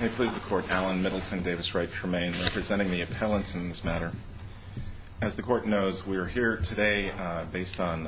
May it please the court, Allen Middleton, Davis Wright, Tremaine, representing the appellants in this matter. As the court knows, we are here today based on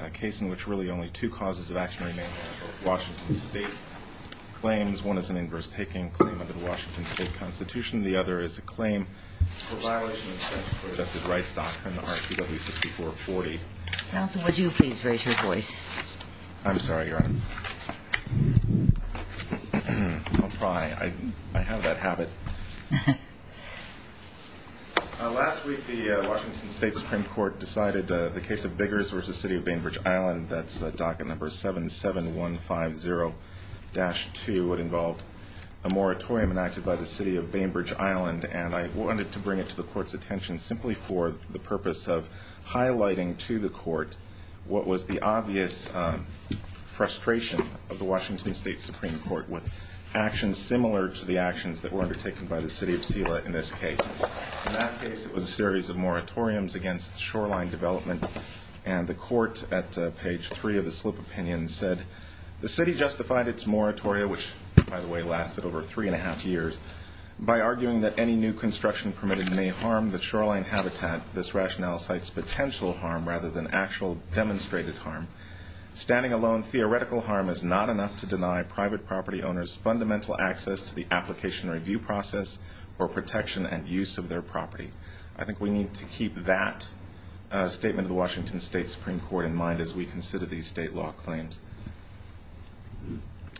a case in which really only two causes of action remain. Washington State claims, one is an inverse taking claim under the Washington State Constitution. The other is a claim for violation of federal justice rights doctrine, RCW 6440. Counsel, would you please raise your voice? I'm sorry, Your Honor. Don't cry, I have that habit. Last week, the Washington State Supreme Court decided the case of Biggers v. City of Bainbridge Island, that's docket number 77150-2. It involved a moratorium enacted by the city of Bainbridge Island, and I wanted to bring it to the court's attention simply for the purpose of highlighting to the court what was the obvious frustration of the Washington State Supreme Court with actions similar to the actions that were undertaken by the city of Selah in this case. In that case, it was a series of moratoriums against shoreline development. And the court at page three of the slip opinion said, the city justified its moratorium, which by the way lasted over three and a half years, by arguing that any new construction permitted may harm the shoreline habitat. This rationale cites potential harm rather than actual demonstrated harm. Standing alone, theoretical harm is not enough to deny private property owners fundamental access to the application review process or protection and use of their property. I think we need to keep that statement of the Washington State Supreme Court in mind as we consider these state law claims.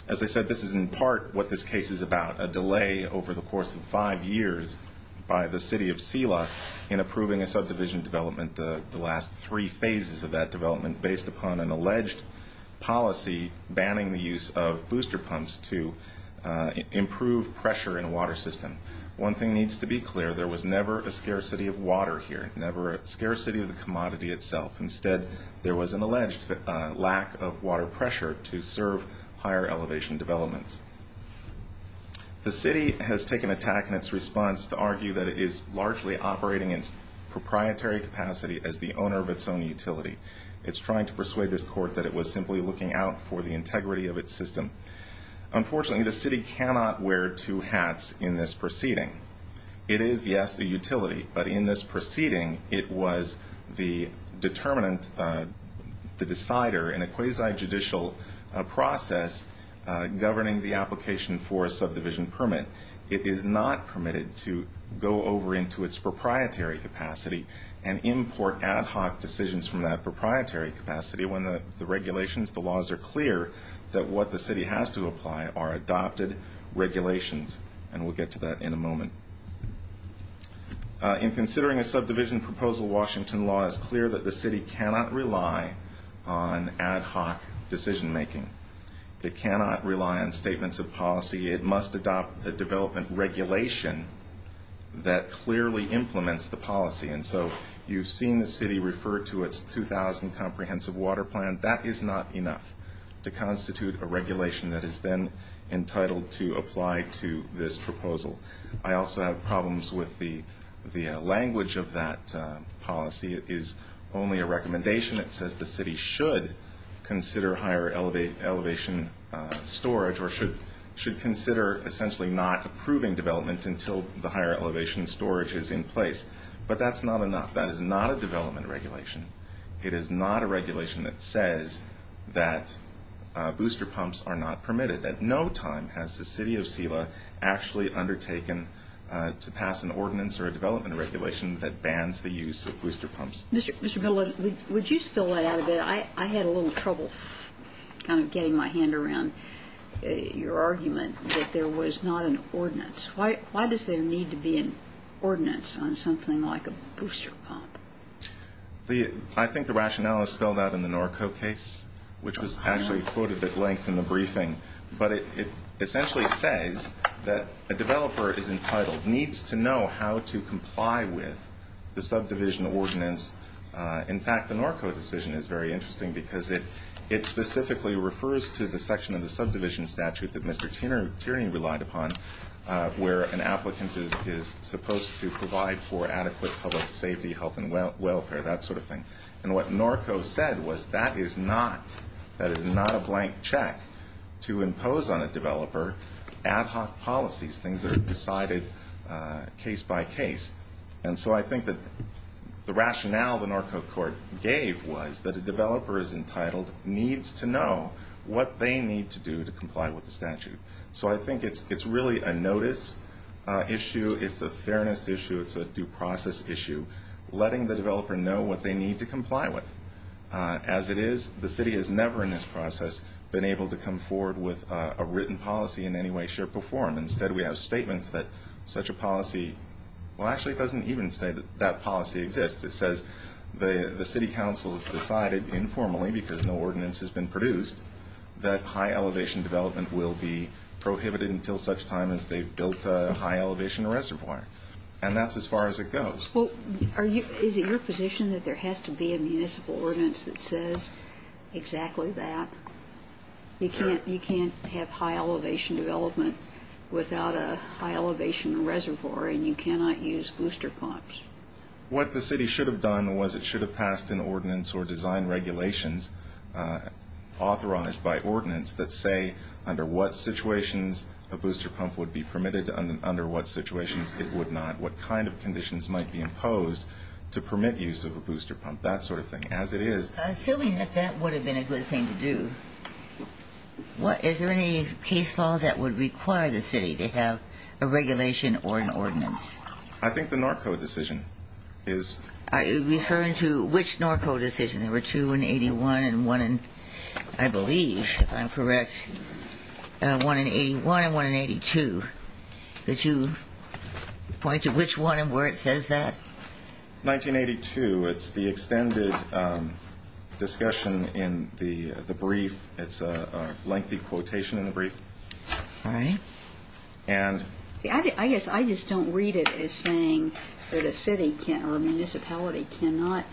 As I said, this is in part what this case is about, a delay over the course of five years by the city of Selah in approving a subdivision development, the last three phases of that development, based upon an alleged policy banning the use of booster pumps to improve pressure in a water system. One thing needs to be clear, there was never a scarcity of water here, never a scarcity of the commodity itself. Instead, there was an alleged lack of water pressure to serve higher elevation developments. The city has taken attack in its response to argue that it is largely operating in its proprietary capacity as the owner of its own utility. It's trying to persuade this court that it was simply looking out for the integrity of its system. Unfortunately, the city cannot wear two hats in this proceeding. It is, yes, a utility, but in this proceeding, it was the determinant, the decider in a quasi-judicial process governing the application for a subdivision permit. It is not permitted to go over into its proprietary capacity and import ad hoc decisions from that proprietary capacity when the regulations, the laws are clear that what the city has to apply are adopted regulations. In considering a subdivision proposal, Washington law is clear that the city cannot rely on ad hoc decision making. It cannot rely on statements of policy. It must adopt a development regulation that clearly implements the policy. And so, you've seen the city referred to its 2,000 comprehensive water plan. That is not enough to constitute a regulation that is then entitled to apply to this proposal. I also have problems with the language of that policy. It is only a recommendation. It says the city should consider higher elevation storage or should consider essentially not approving development until the higher elevation storage is in place. But that's not enough. That is not a development regulation. It is not a regulation that says that booster pumps are not permitted. At no time has the city of CELA actually undertaken to pass an ordinance or a development regulation that bans the use of booster pumps. Mr. Miller, would you spell that out a bit? I had a little trouble kind of getting my hand around your argument that there was not an ordinance. Why does there need to be an ordinance on something like a booster pump? I think the rationale is spelled out in the Norco case, which was actually quoted at length in the briefing. But it essentially says that a developer is entitled, needs to know how to comply with the subdivision ordinance. In fact, the Norco decision is very interesting because it specifically refers to the section of the subdivision statute that Mr. Tierney relied upon where an applicant is supposed to provide for welfare, that sort of thing, and what Norco said was that is not a blank check to impose on a developer ad hoc policies, things that are decided case by case. And so I think that the rationale the Norco court gave was that a developer is entitled, needs to know what they need to do to comply with the statute. So I think it's really a notice issue, it's a fairness issue, it's a due process issue. Letting the developer know what they need to comply with. As it is, the city has never in this process been able to come forward with a written policy in any way, shape, or form. Instead we have statements that such a policy, well actually it doesn't even say that that policy exists. It says the city council has decided informally, because no ordinance has been produced, that high elevation development will be prohibited until such time as they've built a high elevation reservoir. And that's as far as it goes. Is it your position that there has to be a municipal ordinance that says exactly that? You can't have high elevation development without a high elevation reservoir and you cannot use booster pumps. What the city should have done was it should have passed an ordinance or designed regulations authorized by ordinance that say under what situations a booster pump would be permitted and under what situations it would not. What kind of conditions might be imposed to permit use of a booster pump, that sort of thing. As it is- Assuming that that would have been a good thing to do, is there any case law that would require the city to have a regulation or an ordinance? I think the Norco decision is- Are you referring to which Norco decision? There were two in 81 and one in, I believe if I'm correct, one in 81 and one in 82. Could you point to which one and where it says that? 1982, it's the extended discussion in the brief. It's a lengthy quotation in the brief. All right. And- I guess I just don't read it as saying that a city or a municipality cannot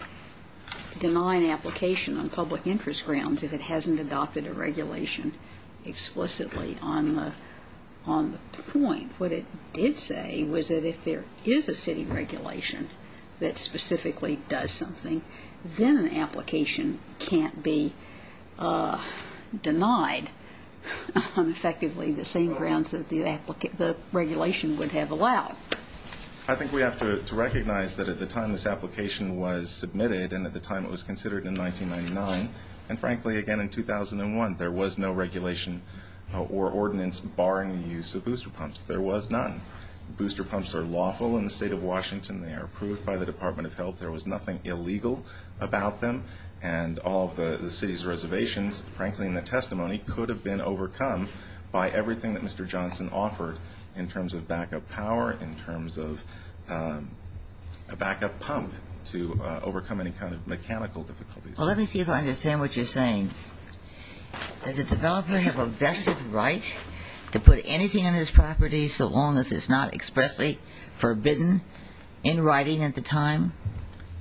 deny an application on public interest grounds if it hasn't adopted a regulation explicitly on the point. What it did say was that if there is a city regulation that specifically does something, then an application can't be denied on effectively the same grounds that the regulation would have allowed. I think we have to recognize that at the time this application was submitted, and at the time it was considered in 1999, and frankly again in 2001, there was no regulation or ordinance barring the use of booster pumps. There was none. Booster pumps are lawful in the state of Washington. They are approved by the Department of Health. There was nothing illegal about them. And all of the city's reservations, frankly in the testimony, could have been overcome by everything that Mr. Johnson offered in terms of backup power, in terms of a backup pump to overcome any kind of mechanical difficulties. Well, let me see if I understand what you're saying. Does a developer have a vested right to put anything on his property so long as it's not expressly forbidden in writing at the time,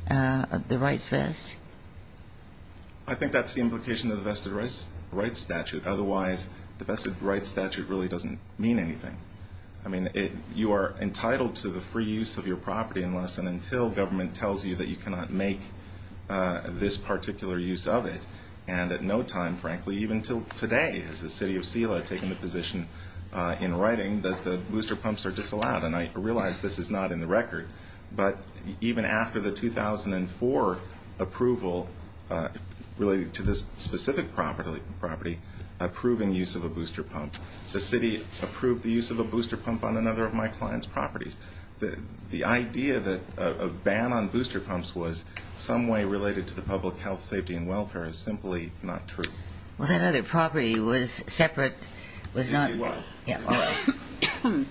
the rights vest? I think that's the implication of the vested rights statute. Otherwise, the vested rights statute really doesn't mean anything. I mean, you are entitled to the free use of your property unless and until government tells you that you cannot make this particular use of it. And at no time, frankly, even until today, has the city of Selah taken the position in writing that the booster pumps are disallowed. But even after the 2004 approval related to this specific property, approving use of a booster pump, the city approved the use of a booster pump on another of my client's properties. The idea that a ban on booster pumps was some way related to the public health, safety, and welfare is simply not true. Well, that other property was separate. It was. Yeah. All right.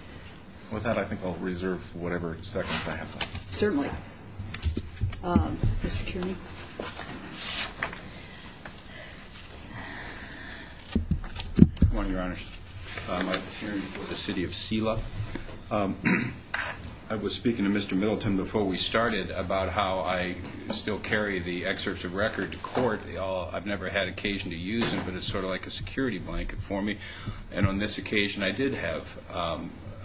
With that, I think I'll reserve whatever seconds I have left. Certainly. Mr. Tierney? Good morning, Your Honor. I'm Mike Tierney for the city of Selah. I was speaking to Mr. Middleton before we started about how I still carry the excerpts of record to court. I've never had occasion to use them, but it's sort of like a security blanket for me. And on this occasion, I did have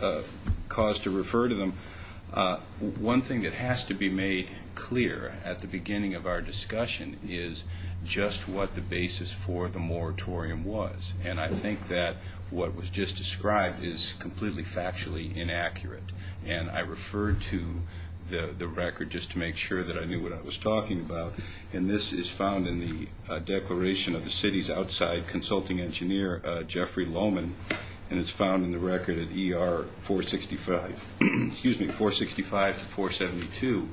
a cause to refer to them. One thing that has to be made clear at the beginning of our discussion is just what the basis for the moratorium was. And I think that what was just described is completely factually inaccurate. And I referred to the record just to make sure that I knew what I was talking about. And this is found in the declaration of the city's outside consulting engineer, Jeffrey Lohman. And it's found in the record at ER 465, excuse me, 465 to 472.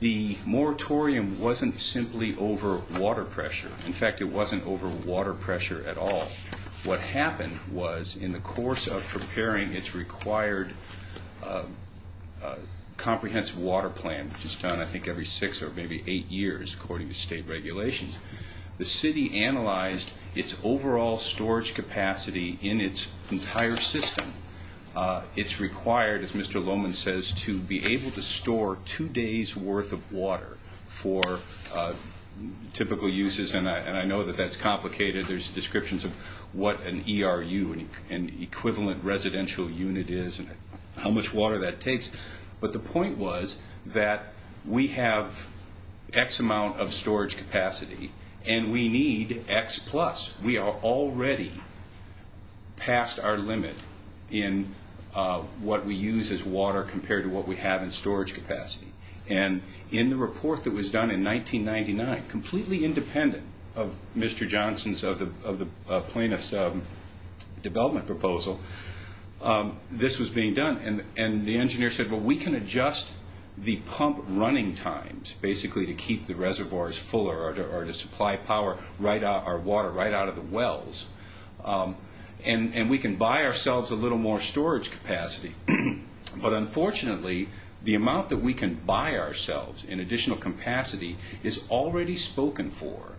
The moratorium wasn't simply over water pressure. In fact, it wasn't over water pressure at all. What happened was in the course of preparing its required comprehensive water plan, which is done I think every six or maybe eight years according to state regulations. The city analyzed its overall storage capacity in its entire system. It's required, as Mr. Lohman says, to be able to store two days worth of water for typical uses, and I know that that's complicated. There's descriptions of what an ERU, an equivalent residential unit, is and how much water that takes. But the point was that we have X amount of storage capacity and we need X plus. We are already past our limit in what we use as water compared to what we have in storage capacity. And in the report that was done in 1999, completely independent of Mr. Johnson's, of the plaintiff's development proposal, this was being done. And the engineer said, well, we can adjust the pump running times basically to keep the reservoirs fuller or to supply power, our water right out of the wells. And we can buy ourselves a little more storage capacity. But unfortunately, the amount that we can buy ourselves in additional capacity is already spoken for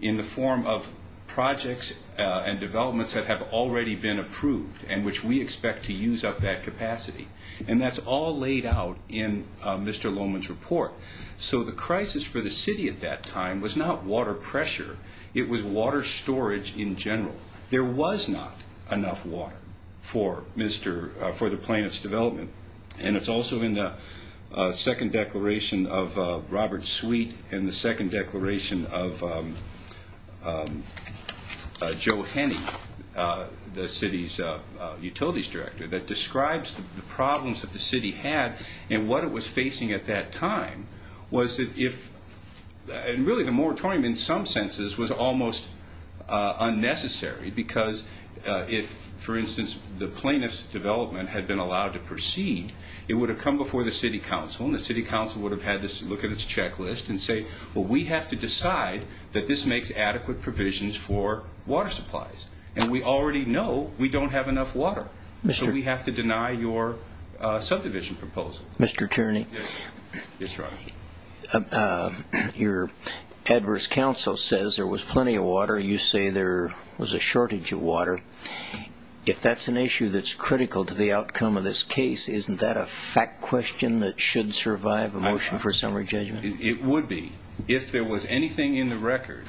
in the form of projects and developments that have already been approved and which we expect to use up that capacity. And that's all laid out in Mr. Lohman's report. So the crisis for the city at that time was not water pressure, it was water storage in general. There was not enough water for the plaintiff's development. And it's also in the second declaration of Robert Sweet and the second declaration of Joe Henney, the city's utilities director, that describes the problems that the city had and what it was facing at that time. And really, the moratorium in some senses was almost unnecessary because if, for instance, the plaintiff's development had been allowed to proceed, it would have come before the city council. And the city council would have had to look at its checklist and say, well, we have to decide that this makes adequate provisions for water supplies. And we already know we don't have enough water. So we have to deny your subdivision proposal. Mr. Tierney, your adverse counsel says there was plenty of water. You say there was a shortage of water. If that's an issue that's critical to the outcome of this case, isn't that a fact question that should survive a motion for summary judgment? It would be if there was anything in the record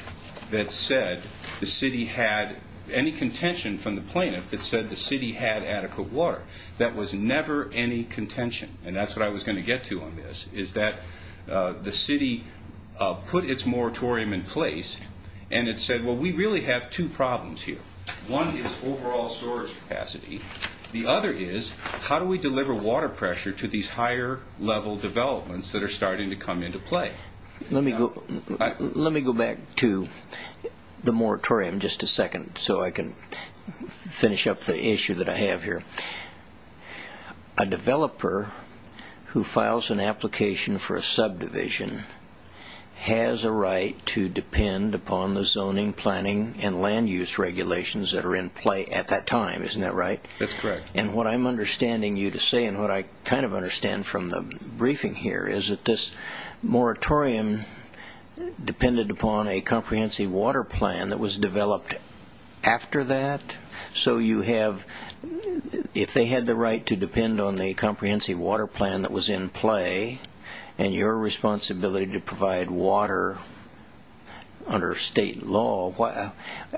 that said the city had any contention from the plaintiff that said the city had adequate water. That was never any contention. And that's what I was going to get to on this, is that the city put its moratorium in place and it said, well, we really have two problems here. One is overall storage capacity. The other is how do we deliver water pressure to these higher level developments that are starting to come into play? Let me go back to the moratorium just a second so I can finish up the issue that I have here. A developer who files an application for a subdivision has a right to depend upon the zoning, planning, and land use regulations that are in play at that time. Isn't that right? That's correct. And what I'm understanding you to say, and what I kind of understand from the briefing here, is that this moratorium depended upon a comprehensive water plan that was developed after that. So you have, if they had the right to depend on the comprehensive water plan that was in play, and your responsibility to provide water under state law,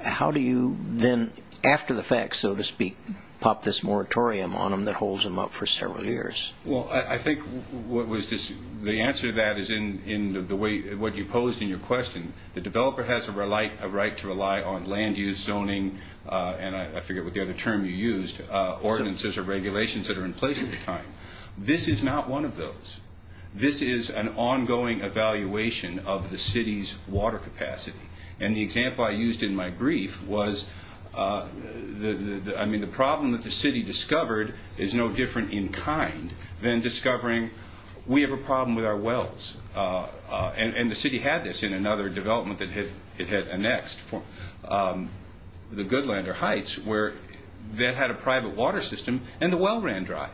how do you then, after the fact, so to speak, pop this moratorium on them that holds them up for several years? Well, I think the answer to that is in the way, what you posed in your question. The developer has a right to rely on land use, zoning, and I forget what the other term you used, ordinances or regulations that are in place at the time. This is not one of those. This is an ongoing evaluation of the city's water capacity. And the example I used in my brief was, I mean, the problem that the city discovered is no different and the city had this in another development that it had annexed, the Goodlander Heights, where that had a private water system and the well ran dry.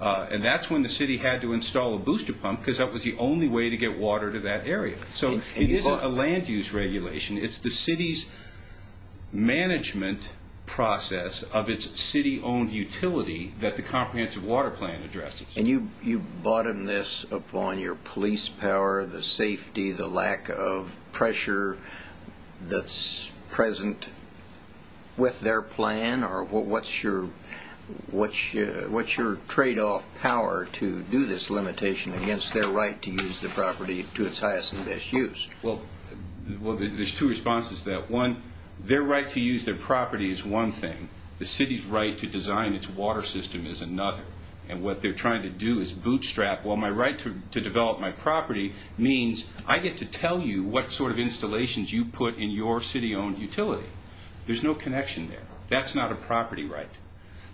And that's when the city had to install a booster pump because that was the only way to get water to that area. So it isn't a land use regulation. It's the city's management process of its city-owned utility that the comprehensive water plan addresses. And you bottom this upon your police power, the safety, the lack of pressure that's present with their plan? Or what's your trade-off power to do this limitation against their right to use the property to its highest and best use? Well, there's two responses to that. One, their right to use their property is one thing. The city's right to design its water system is another. And what they're trying to do is bootstrap, well, my right to develop my property means I get to tell you what sort of installations you put in your city-owned utility. There's no connection there. That's not a property right.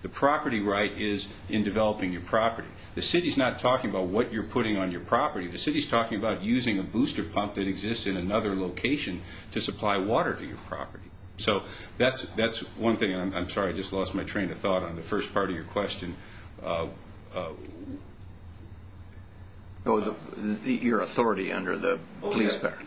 The property right is in developing your property. The city's not talking about what you're putting on your property. The city's talking about using a booster pump that exists in another location to supply water to your property. So that's one thing. And I'm sorry, I just lost my train of thought on the first part of your question. Your authority under the police power?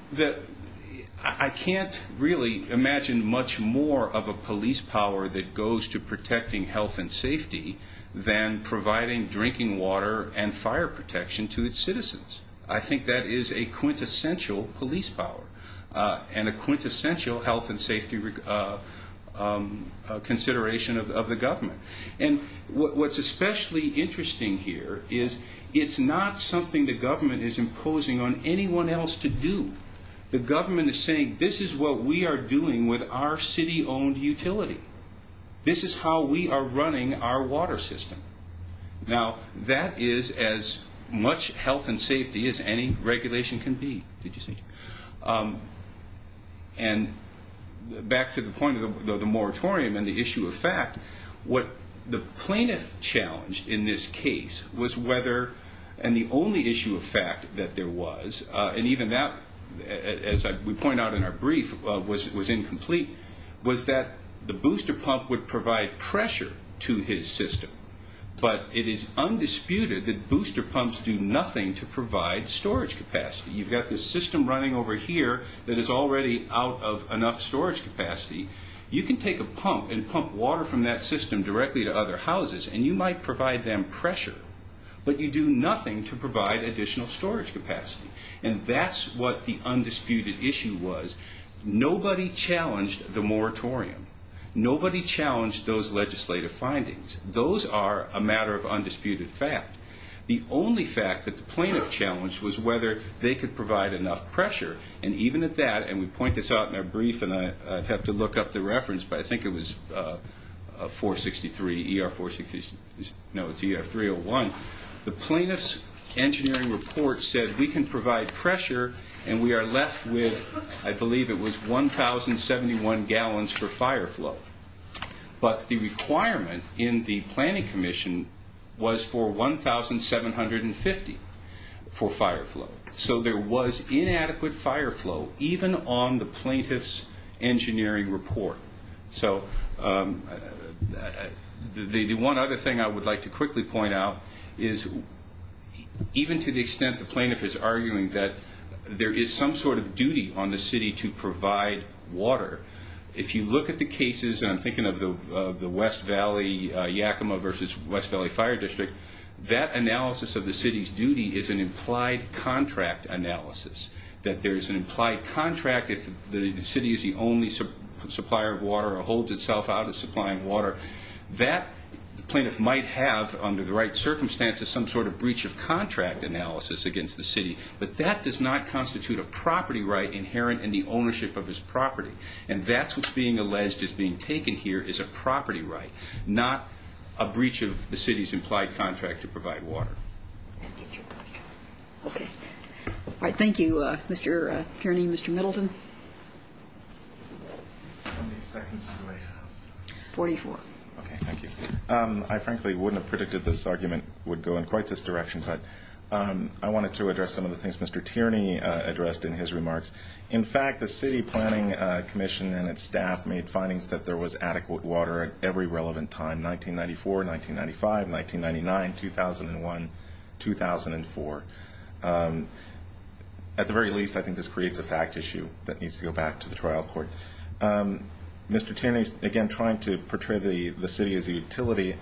I can't really imagine much more of a police power that goes to protecting health and safety than providing drinking water and fire protection to its citizens. I think that is a quintessential police power and a quintessential health and safety consideration of the government. And what's especially interesting here is it's not something the government is imposing on anyone else to do. The government is saying this is what we are doing with our city-owned utility. This is how we are running our water system. Now, that is as much health and safety as any regulation can be. And back to the point of the moratorium and the issue of fact. What the plaintiff challenged in this case was whether, and the only issue of fact that there was, and even that, as we point out in our brief, was incomplete, was that the booster pump would provide pressure to his system. But it is undisputed that booster pumps do nothing to provide storage capacity. You've got this system running over here that is already out of enough storage capacity. You can take a pump and pump water from that system directly to other houses, and you might provide them pressure. But you do nothing to provide additional storage capacity. And that's what the undisputed issue was. Nobody challenged the moratorium. Nobody challenged those legislative findings. Those are a matter of undisputed fact. The only fact that the plaintiff challenged was whether they could provide enough pressure. And even at that, and we point this out in our brief, and I'd have to look up the reference, but I think it was 463, ER 463, no, it's ER 301. The plaintiff's engineering report said we can provide pressure, and we are left with, I believe it was 1,071 gallons for fire flow. But the requirement in the planning commission was for 1,750 for fire flow. So there was inadequate fire flow, even on the plaintiff's engineering report. So the one other thing I would like to quickly point out is, even to the extent the plaintiff is arguing that there is some sort of duty on the city to provide water. If you look at the cases, and I'm thinking of the West Valley Yakima versus West Valley Fire District, that analysis of the city's duty is an implied contract analysis. That there's an implied contract if the city is the only supplier of water, or holds itself out of supplying water. That plaintiff might have, under the right circumstances, some sort of breach of contract analysis against the city. But that does not constitute a property right inherent in the ownership of his property. And that's what's being alleged as being taken here, is a property right. Not a breach of the city's implied contract to provide water. Okay, all right, thank you, Mr. Tierney, Mr. Middleton. How many seconds do I have? 44. Okay, thank you. I frankly wouldn't have predicted this argument would go in quite this direction. But I wanted to address some of the things Mr. Tierney addressed in his remarks. In fact, the city planning commission and its staff made findings that there was adequate water at every relevant time. 1994, 1995, 1999, 2001, 2004. At the very least, I think this creates a fact issue that needs to go back to the trial court. Mr. Tierney's again trying to portray the city as a utility.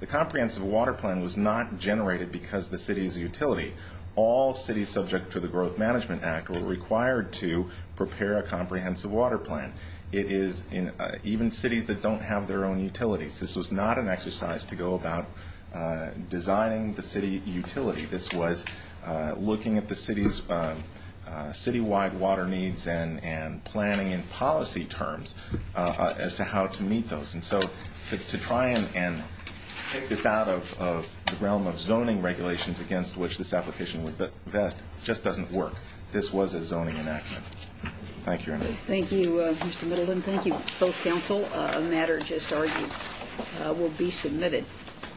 The comprehensive water plan was not generated because the city is a utility. All cities subject to the Growth Management Act were required to prepare a comprehensive water plan. It is in even cities that don't have their own utilities. This was not an exercise to go about designing the city utility. This was looking at the city's city-wide water needs and planning in policy terms as to how to meet those. And so to try and take this out of the realm of zoning regulations against which this application would invest just doesn't work. This was a zoning enactment. Thank you. Thank you, Mr. Middleton. Thank you. Both counsel, a matter just argued will be submitted.